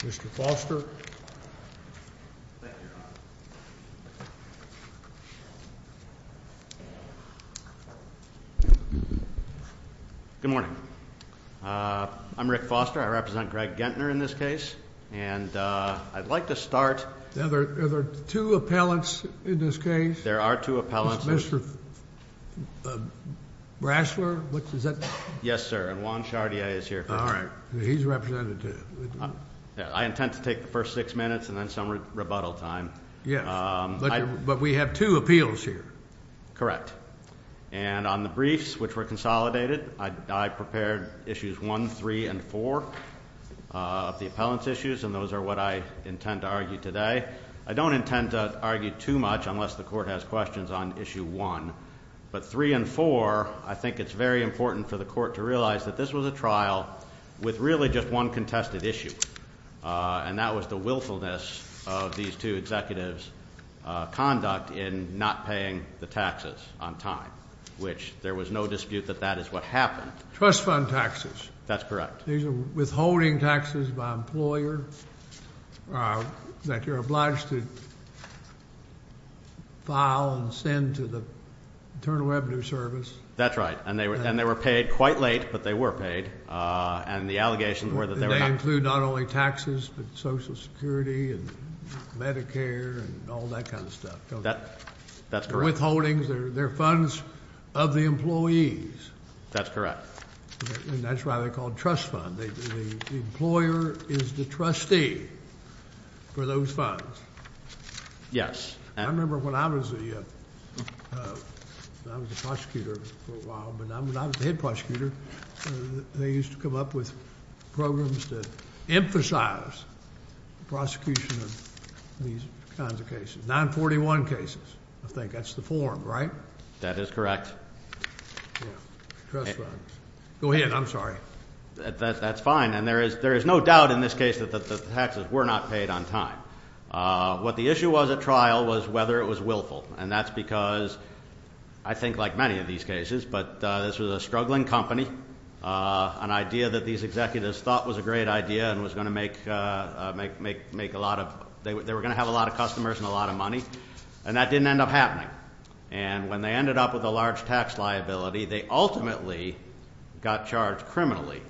Mr. Foster. Good morning. I'm Rick Foster. I represent Greg Gentner in this case. And I'd like to start. Now, are there two appellants in this case? There are two appellants. Mr. Brasler? What is that? Yes, sir. And Juan Shardia is here. All right. And he's representative. I intend to take the first six minutes and then some rebuttal time. Yes. But we have two appeals here. Correct. And on the briefs, which were consolidated, I prepared issues one, three, and four of the appellant's issues. And those are what I intend to argue today. I don't intend to argue too much unless the court has questions on issue one. But three and four, I think it's very important for the court to realize that this was a trial with really just one contested issue. And that was the willfulness of these two executives' conduct in not paying the taxes on time, which there was no dispute that that is what happened. Trust fund taxes. That's correct. These are withholding taxes by employer that you're obliged to file and send to the Internal Revenue Service. That's right. And they were paid quite late, but they were paid. And the allegations were that they were not. They include not only taxes, but Social Security and Medicare and all that kind of stuff. That's correct. They're withholdings. They're funds of the employees. That's correct. And that's why they're called trust fund. The employer is the trustee for those funds. Yes. I remember when I was the prosecutor for a while, when I was the head prosecutor, they used to come up with programs to emphasize prosecution of these kinds of cases. 941 cases, I think. That's the form, right? That is correct. Go ahead. I'm sorry. That's fine. And there is no doubt in this case that the taxes were not paid on time. What the issue was at trial was whether it was willful. And that's because, I think like many of these cases, but this was a struggling company. An idea that these executives thought was a great idea and was going to make a lot of, they were going to have a lot of customers and a lot of money. And that didn't end up happening. And when they ended up with a large tax liability, they ultimately got charged criminally.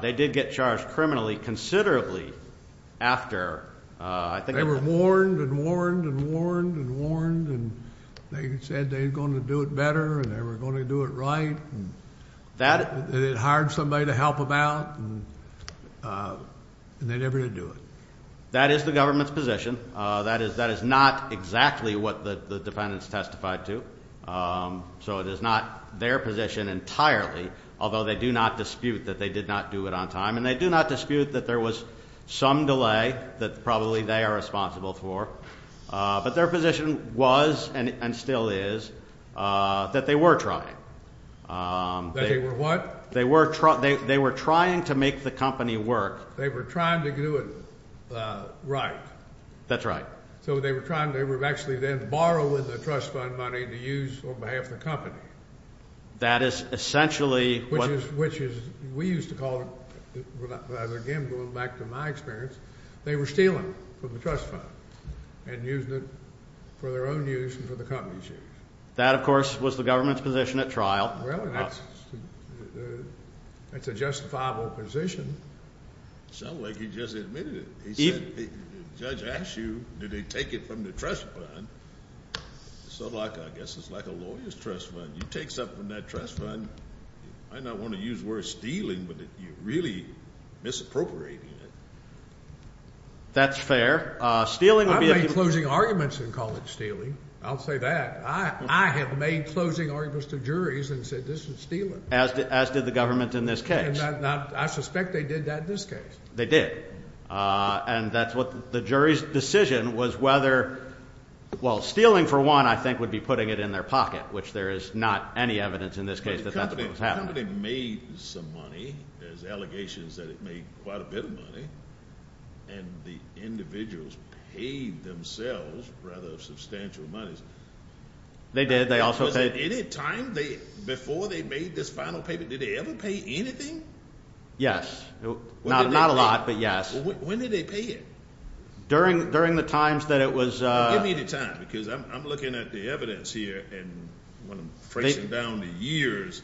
They did get charged criminally considerably after. They were warned and warned and warned and warned. And they said they were going to do it better and they were going to do it right. They hired somebody to help them out and they never did do it. That is the government's position. That is not exactly what the defendants testified to. So it is not their position entirely, although they do not dispute that they did not do it on time. And they do not dispute that there was some delay that probably they are responsible for. But their position was and still is that they were trying. They were what? They were trying to make the company work. They were trying. They were actually then borrowing the trust fund money to use on behalf of the company. That is essentially. Which is, which is, we used to call it, again, going back to my experience, they were stealing from the trust fund and using it for their own use and for the company's use. That, of course, was the government's position at trial. Well, that's a justifiable position. Sounded like he just admitted it. He said the judge asked you, did he take it from the trust fund? So like, I guess it's like a lawyer's trust fund. You take something from that trust fund. I don't want to use the word stealing, but you're really misappropriating it. That's fair. Stealing would be. I've made closing arguments and call it stealing. I'll say that. I have made closing arguments to juries and said this is stealing. As did the government in this case. I suspect they did that in this was whether, well, stealing for one, I think, would be putting it in their pocket, which there is not any evidence in this case that that's what was happening. The company made some money. There's allegations that it made quite a bit of money. And the individuals paid themselves rather substantial monies. They did. They also paid. Was it any time before they made this final payment, did they ever pay anything? Yes. Not a lot, but yes. When did they pay it? During during the times that it was. Give me the time because I'm looking at the evidence here and when I'm phrasing down the years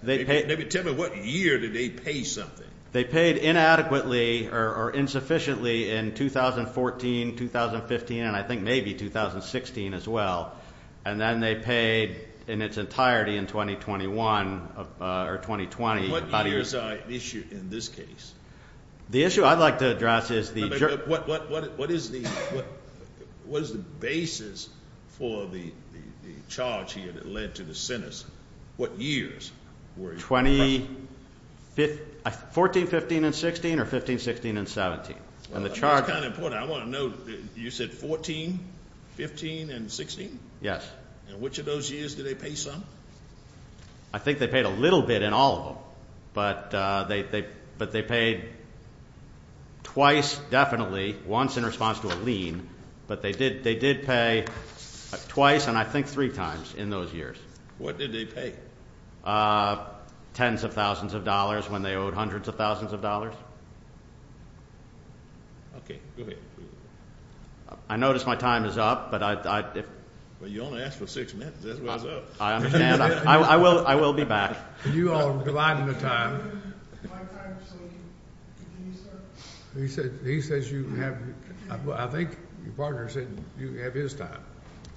they pay, maybe tell me what year did they pay something they paid inadequately or insufficiently in 2014, 2015 and I think maybe 2016 as well. And then they paid in its entirety in 2021 or 2020. What the issue I'd like to address is the what what what is the what was the basis for the charge here that led to the sentence? What years were 20? 14, 15 and 16 or 15, 16 and 17. And the charge kind of important. I want to know. You said 14, 15 and 16. Yes. And which of those years did they pay some? I think they paid a little bit in all of them, but they paid twice. Definitely once in response to a lien. But they did. They did pay twice and I think three times in those years. What did they pay? Tens of thousands of dollars when they owed hundreds of thousands of dollars. I notice my time is up, but I don't ask for six I understand. I will. I will be back. You are dividing the time. He said he says you have. I think your partner said you have his time.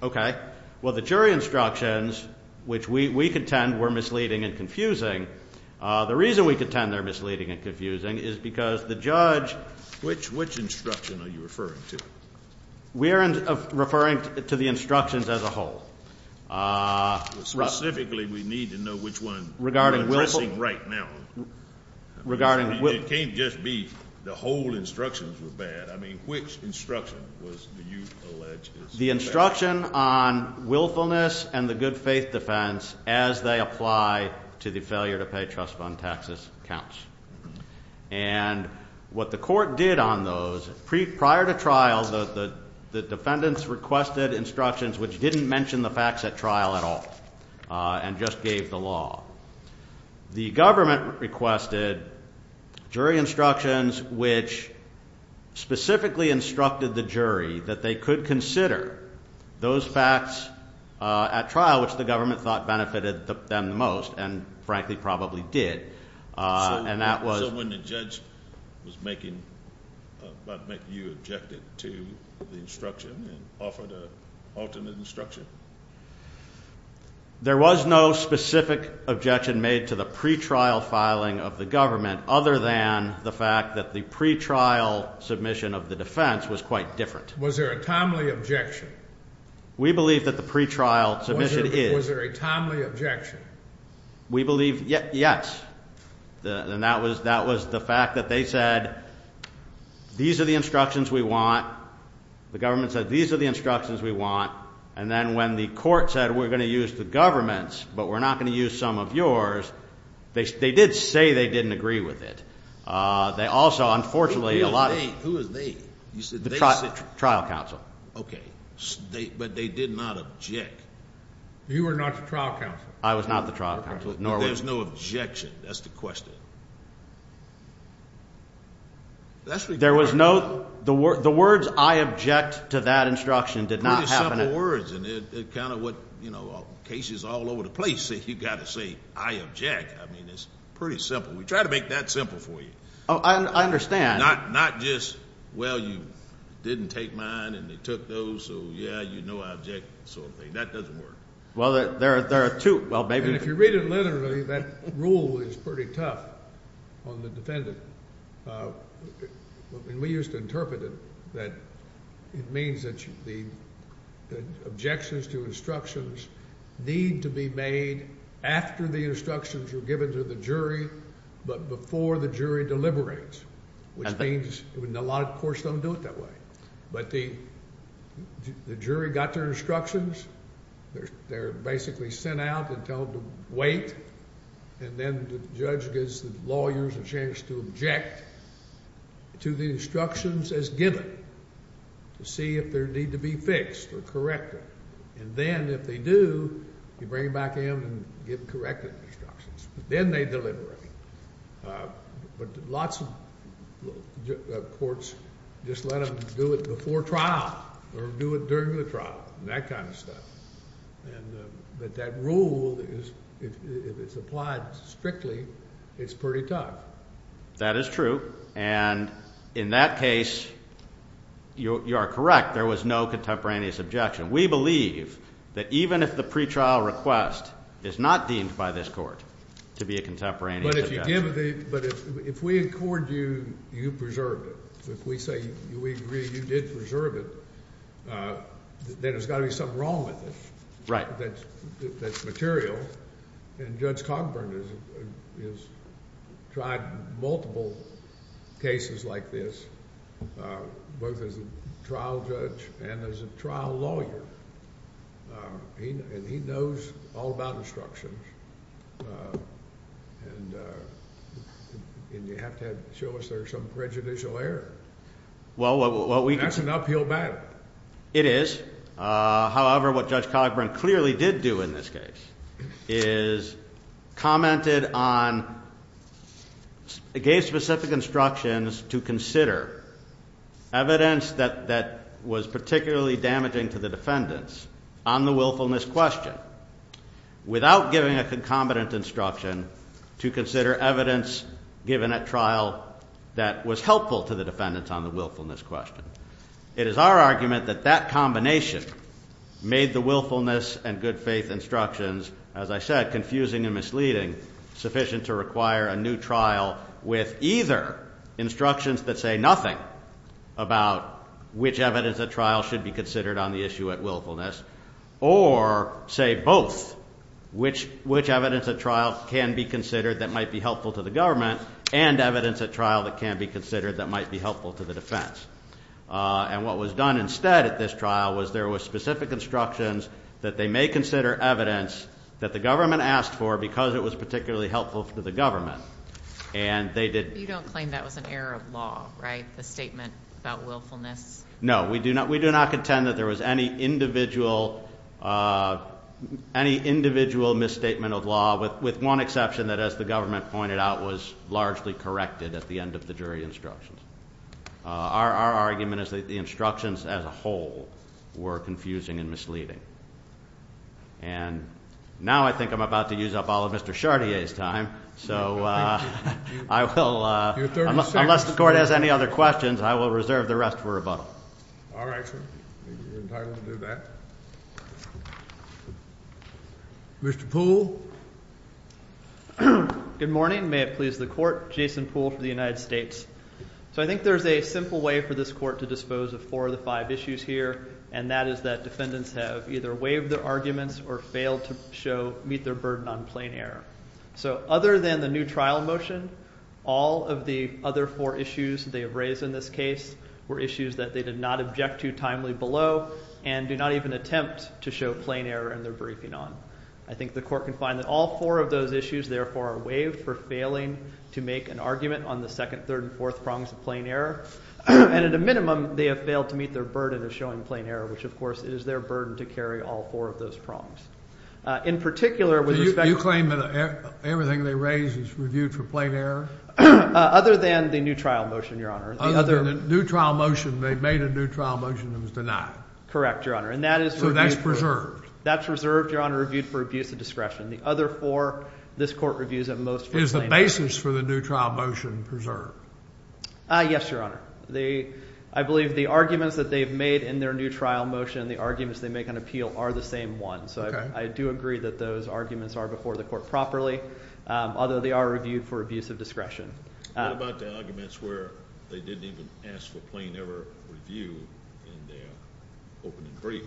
Okay, well, the jury instructions which we contend were misleading and confusing. The reason we contend they're misleading and confusing is because the judge which which instruction are you referring to? We're referring to the instructions as a whole. Specifically, we need to know which one regarding right now regarding what can't just be the whole instructions were bad. I mean, which instruction was the instruction on willfulness and the good faith defense as they apply to the failure to pay trust fund taxes counts and what the court did on those prior to trial. The defendants requested instructions which didn't mention the facts at trial at all and just gave the law. The government requested jury instructions, which specifically instructed the jury that they could consider those facts at trial, which the government thought benefited them the most and frankly, probably did. And that was when the judge was making about make you objected to the instruction and offered alternate instruction. There was no specific objection made to the pretrial filing of the government other than the fact that the pretrial submission of the defense was quite different. Was there a timely objection? We believe that the pretrial submission is there a timely objection? We don't think there was one, but it was there. And that was that was the fact that they said, These are the instructions we want. The government said these are the instructions we want and then when the court said, we're going to use the government's, but we're not going to use some of yours. They did say they didn't agree with it. They also, unfortunately, a lot of who is the trial counsel. Okay, but they did not object. You were not the trial counsel. I was not the trial counsel. There's no objection. That's the question. There was no the word. The words I object to that instruction did not have words and it kind of what you know, cases all over the place that you've got to say I object. I mean, it's pretty simple. We try to make that simple for you. Oh, I understand. Not not just well, you didn't take mine and they took those. So, yeah, you know, object. So that doesn't work. Well, there are there are two. Well, maybe if you read it literally, that rule is pretty tough on the defendant. We used to interpret it that it means that the objections to instructions need to be made after the instructions were given to the jury, but before the jury deliberates, which means a lot of courts don't do it that way. But the jury got their instructions. They're basically sent out and told to wait. And then the judge gives the lawyers a chance to object to the instructions as given to see if there need to be fixed or corrected. And then if they do, you bring it back in and get corrected instructions. Then they deliberate. But lots of courts just let them do it before trial or do it during the trial and that kind of stuff. And but that rule is if it's applied strictly, it's pretty tough. That is true. And in that case, you are correct. There was no contemporaneous objection. We believe that even if the pretrial request is not deemed by this court to be a contemporaneous objection. But if you give it, but if we accord you, you preserved it. If we say we agree you did preserve it, then there's got to be something wrong with it. Right. That's material. And Judge Cogburn has tried multiple cases like this, both as a trial judge and as a lawyer. And he knows all about instructions. And you have to show us there's some prejudicial error. Well, that's an uphill battle. It is. However, what Judge Cogburn clearly did do in this case is commented on, gave specific instructions to consider evidence that was particularly damaging to the defendants on the willfulness question without giving a concomitant instruction to consider evidence given at trial that was helpful to the defendants on the willfulness question. It is our argument that that combination made the willfulness and good faith instructions, as I said, confusing and misleading, sufficient to require a new instructions that say nothing about which evidence at trial should be considered on the issue at willfulness, or say both, which evidence at trial can be considered that might be helpful to the government and evidence at trial that can be considered that might be helpful to the defense. And what was done instead at this trial was there was specific instructions that they may consider evidence that the government asked for because it was particularly helpful to the government. And they did... You don't claim that was an error of law, right? The statement about willfulness? No, we do not contend that there was any individual misstatement of law with one exception that, as the government pointed out, was largely corrected at the end of the jury instructions. Our argument is that the instructions as a whole were confusing and misleading. And now I think I'm about to use up all of Mr. Chartier's time. So I will... Unless the court has any other questions, I will reserve the rest for rebuttal. All right, sir. You're entitled to do that. Mr. Poole? Good morning. May it please the court. Jason Poole for the United States. So I think there's a simple way for this court to dispose of four of the five issues here, and that is that defendants have either waived their arguments or failed to meet their burden on plain error. So other than the new trial motion, all of the other four issues they have raised in this case were issues that they did not object to timely below and do not even attempt to show plain error in their briefing on. I think the court can find that all four of those issues, therefore, are waived for failing to make an argument on the second, third, and fourth prongs of plain error. And at a minimum, they have failed to meet their burden of showing plain error, which, of course, is their burden to carry all four of those issues. In particular, with respect to... So you claim that everything they raise is reviewed for plain error? Other than the new trial motion, Your Honor. Other than the new trial motion. They made a new trial motion that was denied. Correct, Your Honor. And that is... So that's preserved. That's reserved, Your Honor, reviewed for abuse of discretion. The other four this court reviews at most for plain error. Is the basis for the new trial motion preserved? Yes, Your Honor. I believe the arguments that they've made in their new trial motion, the arguments they make on appeal, are the same ones. So I do agree that those arguments are before the court properly, although they are reviewed for abuse of discretion. What about the arguments where they didn't even ask for plain error review in their opening brief?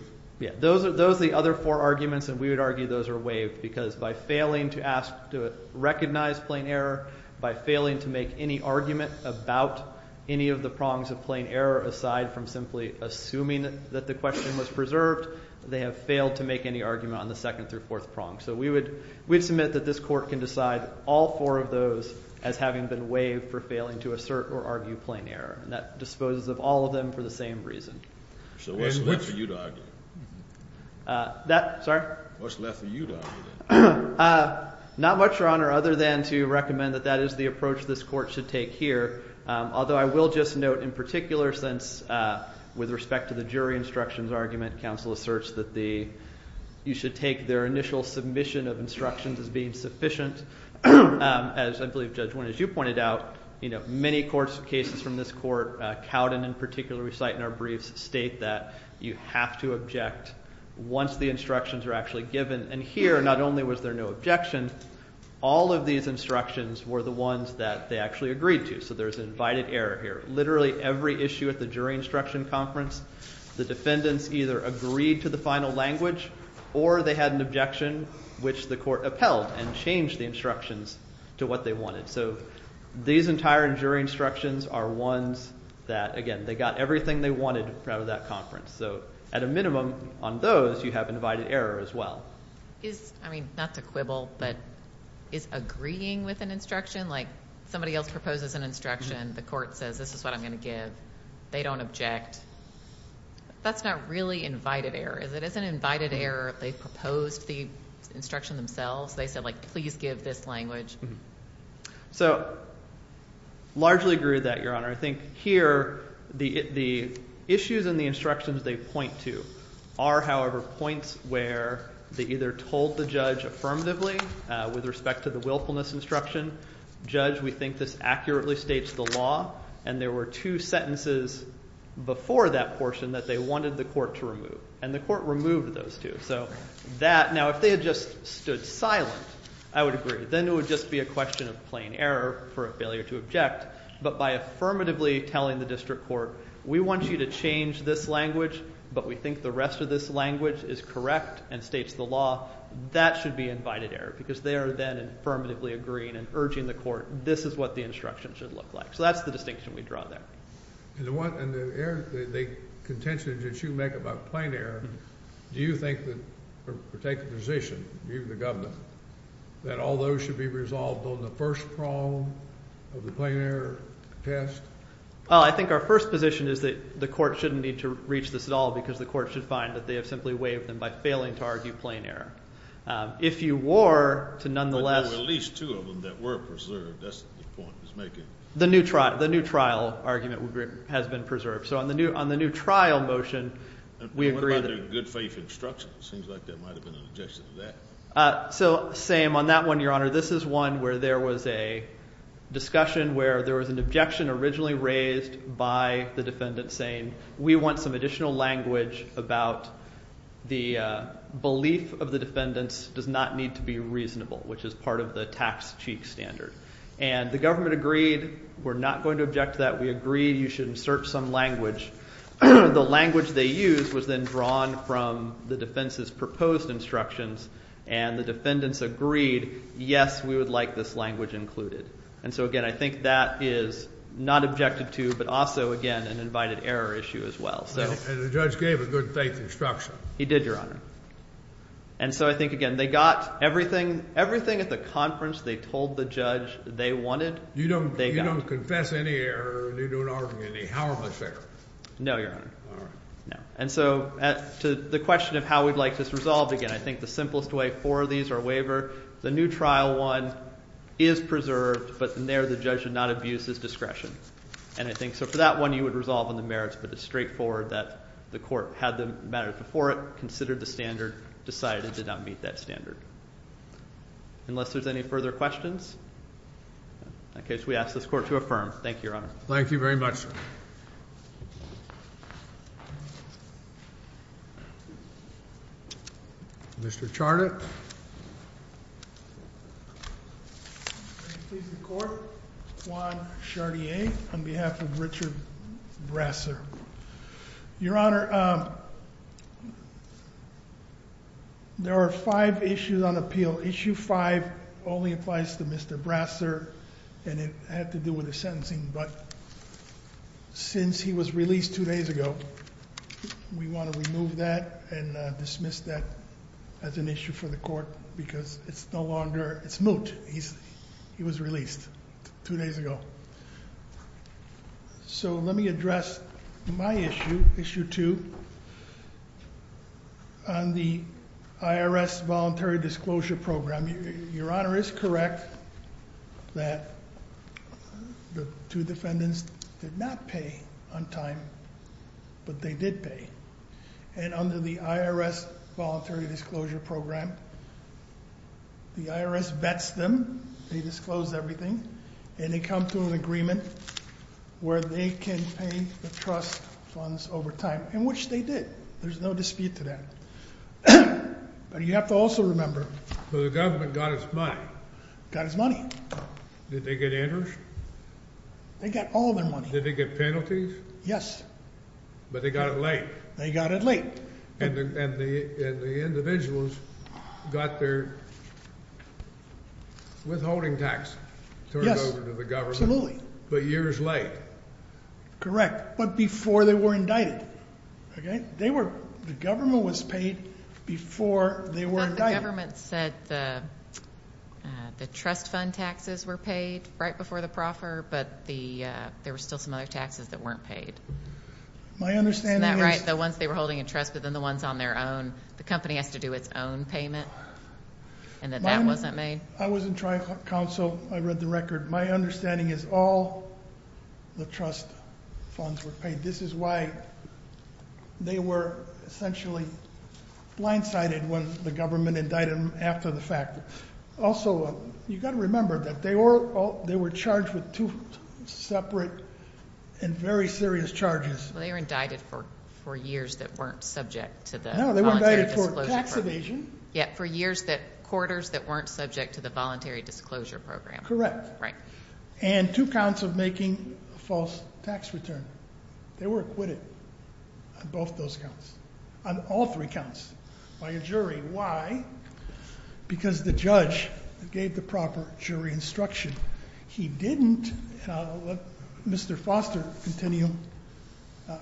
Those are the other four arguments, and we would argue those are waived because by failing to ask to recognize plain error, by failing to make any argument about any of the prongs of plain error aside from simply assuming that the question was preserved, they have failed to make any argument on the second through fourth prong. So we would submit that this court can decide all four of those as having been waived for failing to assert or argue plain error. And that disposes of all of them for the same reason. So what's left for you to argue? Sorry? What's left for you to argue? Not much, Your Honor, other than to recommend that that is the approach this court should take here. Although I will just note in particular, since with respect to the jury instructions argument, counsel asserts that you should take their initial submission of instructions as being sufficient. As I believe Judge Winn, as you pointed out, many court cases from this court, Cowden in particular, we cite in our briefs, state that you have to object once the instructions are actually given. And here, not only was there no objection, all of these instructions were the ones that they actually agreed to. So there's invited error here. Literally every issue at the jury instruction conference, the defendants either agreed to the final language or they had an objection which the court upheld and changed the instructions to what they wanted. So these entire jury instructions are ones that, again, they got everything they wanted out of that conference. So at a minimum, on those, you have invited error as well. Is, I mean, not to quibble, but is agreeing with an instruction, like somebody else proposes an instruction, the court says this is what I'm going to give. They don't object. That's not really invited error, is it? Isn't invited error if they proposed the instruction themselves? They said, like, please give this language. So largely agree with that, Your Honor. I think here the issues in the instructions they point to are, however, points where they either told the judge affirmatively with respect to the willfulness instruction. Judge, we think this accurately states the law. And there were two sentences before that portion that they wanted the court to remove. And the court removed those two. Now, if they had just stood silent, I would agree. Then it would just be a question of plain error for a failure to object. But by affirmatively telling the district court, we want you to change this language, but we think the rest of this language is correct and states the law, that should be invited error because they are then affirmatively agreeing and urging the court, this is what the instruction should look like. So that's the distinction we draw there. And the contention that you make about plain error, do you think or take the position, you the governor, that all those should be resolved on the first prong of the plain error test? Well, I think our first position is that the court shouldn't need to reach this at all because the court should find that they have simply waived them by failing to argue plain error. If you were to nonetheless— But there were at least two of them that were preserved. That's the point he's making. The new trial argument has been preserved. So on the new trial motion, we agree that— What about the good faith instruction? It seems like there might have been an objection to that. So same. On that one, Your Honor, this is one where there was a discussion where there was an objection originally raised by the defendant saying we want some additional language about the belief of the defendants does not need to be reasonable, which is part of the tax cheat standard. And the government agreed we're not going to object to that. We agree you should insert some language. The language they used was then drawn from the defense's proposed instructions, and the defendants agreed, yes, we would like this language included. And so, again, I think that is not objected to, but also, again, an invited error issue as well. And the judge gave a good faith instruction. He did, Your Honor. And so I think, again, they got everything. Everything at the conference they told the judge they wanted, they got. You don't confess any error, and you don't argue any harmless error? No, Your Honor. All right. And so to the question of how we'd like this resolved, again, I think the simplest way for these are waiver. The new trial one is preserved, but in there the judge did not abuse his discretion. And I think so for that one you would resolve on the merits, but it's straightforward that the court had the matter before it, considered the standard, decided it did not meet that standard. Unless there's any further questions? In that case, we ask this court to affirm. Thank you, Your Honor. Thank you very much, sir. Mr. Charnick. Your Honor, may it please the court, Juan Chartier on behalf of Richard Brasser. Your Honor, there are five issues on appeal. Issue five only applies to Mr. Brasser, and it had to do with his sentencing. But since he was released two days ago, we want to remove that and dismiss that as an issue for the court because it's no longer. It's moot. He was released two days ago. So let me address my issue, issue two, on the IRS voluntary disclosure program. Your Honor is correct that the two defendants did not pay on time, but they did pay. And under the IRS voluntary disclosure program, the IRS vets them, they disclose everything, and they come to an agreement where they can pay the trust funds over time, and which they did. There's no dispute to that. But you have to also remember. So the government got its money. Got its money. Did they get interest? They got all their money. Did they get penalties? Yes. But they got it late. They got it late. And the individuals got their withholding tax turned over to the government. Yes, absolutely. But years late. Correct, but before they were indicted. The government was paid before they were indicted. But the government said the trust fund taxes were paid right before the proffer, but there were still some other taxes that weren't paid. Isn't that right? The ones they were holding in trust, but then the ones on their own. The company has to do its own payment, and that that wasn't made. I was in Tri-Council. I read the record. My understanding is all the trust funds were paid. This is why they were essentially blindsided when the government indicted them after the fact. Also, you've got to remember that they were charged with two separate and very serious charges. Well, they were indicted for years that weren't subject to the voluntary disclosure program. No, they were indicted for tax evasion. Yes, for quarters that weren't subject to the voluntary disclosure program. Correct. Right. And two counts of making a false tax return. They were acquitted on both those counts. On all three counts by a jury. Why? Because the judge gave the proper jury instruction. He didn't. Let Mr. Foster continue.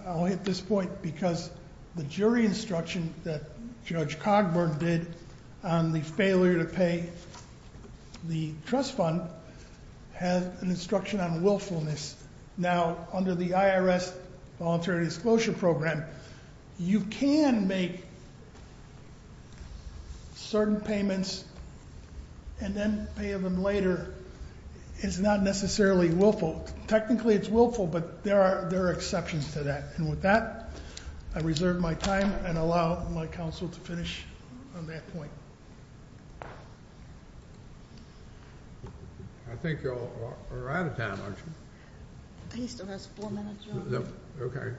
I'll hit this point because the jury instruction that Judge Cogburn did on the failure to pay the trust fund has an instruction on willfulness. Now, under the IRS Voluntary Disclosure Program, you can make certain payments and then pay them later. It's not necessarily willful. Technically, it's willful, but there are exceptions to that. And with that, I reserve my time and allow my counsel to finish on that point. I think you all are out of time, aren't you? He still has four minutes, Your Honor. Okay.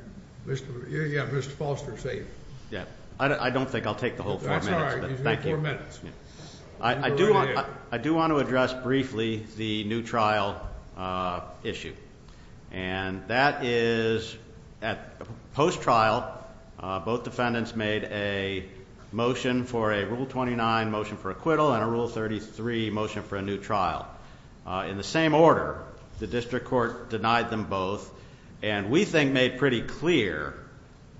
Yeah, Mr. Foster is safe. Yeah. I don't think I'll take the whole four minutes, but thank you. He's got four minutes. I do want to address briefly the new trial issue. And that is at post-trial, both defendants made a motion for a Rule 29 motion for acquittal and a Rule 33 motion for a new trial. In the same order, the district court denied them both. And we think made pretty clear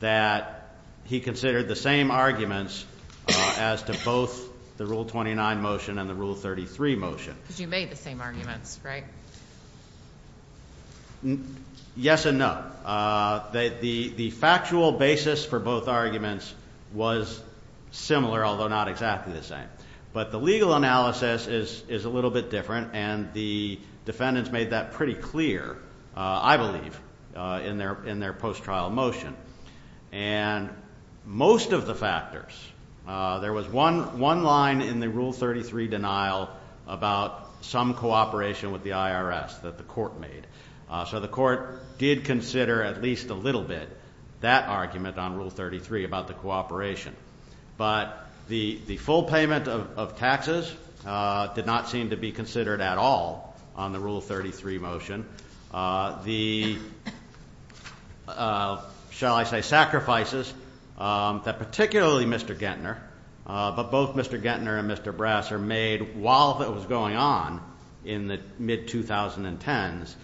that he considered the same arguments as to both the Rule 29 motion and the Rule 33 motion. Because you made the same arguments, right? Yes and no. The factual basis for both arguments was similar, although not exactly the same. But the legal analysis is a little bit different, and the defendants made that pretty clear, I believe, in their post-trial motion. And most of the factors, there was one line in the Rule 33 denial about some cooperation with the IRS that the court made. So the court did consider at least a little bit that argument on Rule 33 about the cooperation. But the full payment of taxes did not seem to be considered at all on the Rule 33 motion. The, shall I say, sacrifices that particularly Mr. Gettner, but both Mr. Gettner and Mr. Brasser made while that was going on in the mid-2010s.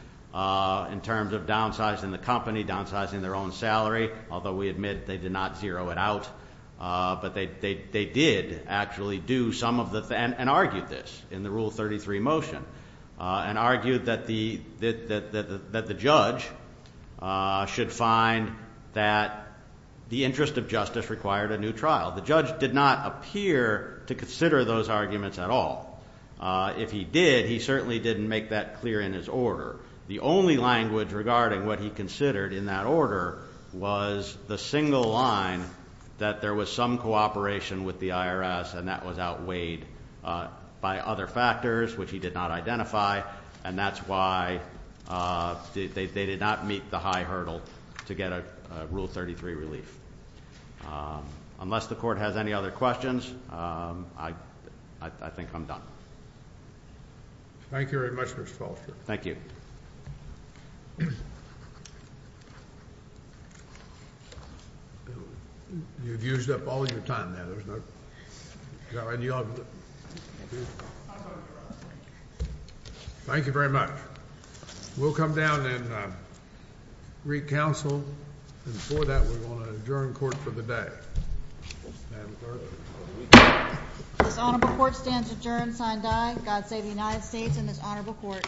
In terms of downsizing the company, downsizing their own salary, although we admit they did not zero it out. But they did actually do some of the, and argued this in the Rule 33 motion. And argued that the judge should find that the interest of justice required a new trial. The judge did not appear to consider those arguments at all. If he did, he certainly didn't make that clear in his order. The only language regarding what he considered in that order was the single line that there was some cooperation with the IRS. And that was outweighed by other factors, which he did not identify. And that's why they did not meet the high hurdle to get a Rule 33 relief. Unless the court has any other questions, I think I'm done. Thank you very much, Mr. Foster. Thank you. Thank you. You've used up all your time there. There's no idea of it. Thank you very much. We'll come down and re-counsel. And before that, we want to adjourn court for the day. This honorable court stands adjourned, sign die. God save the United States and this honorable court.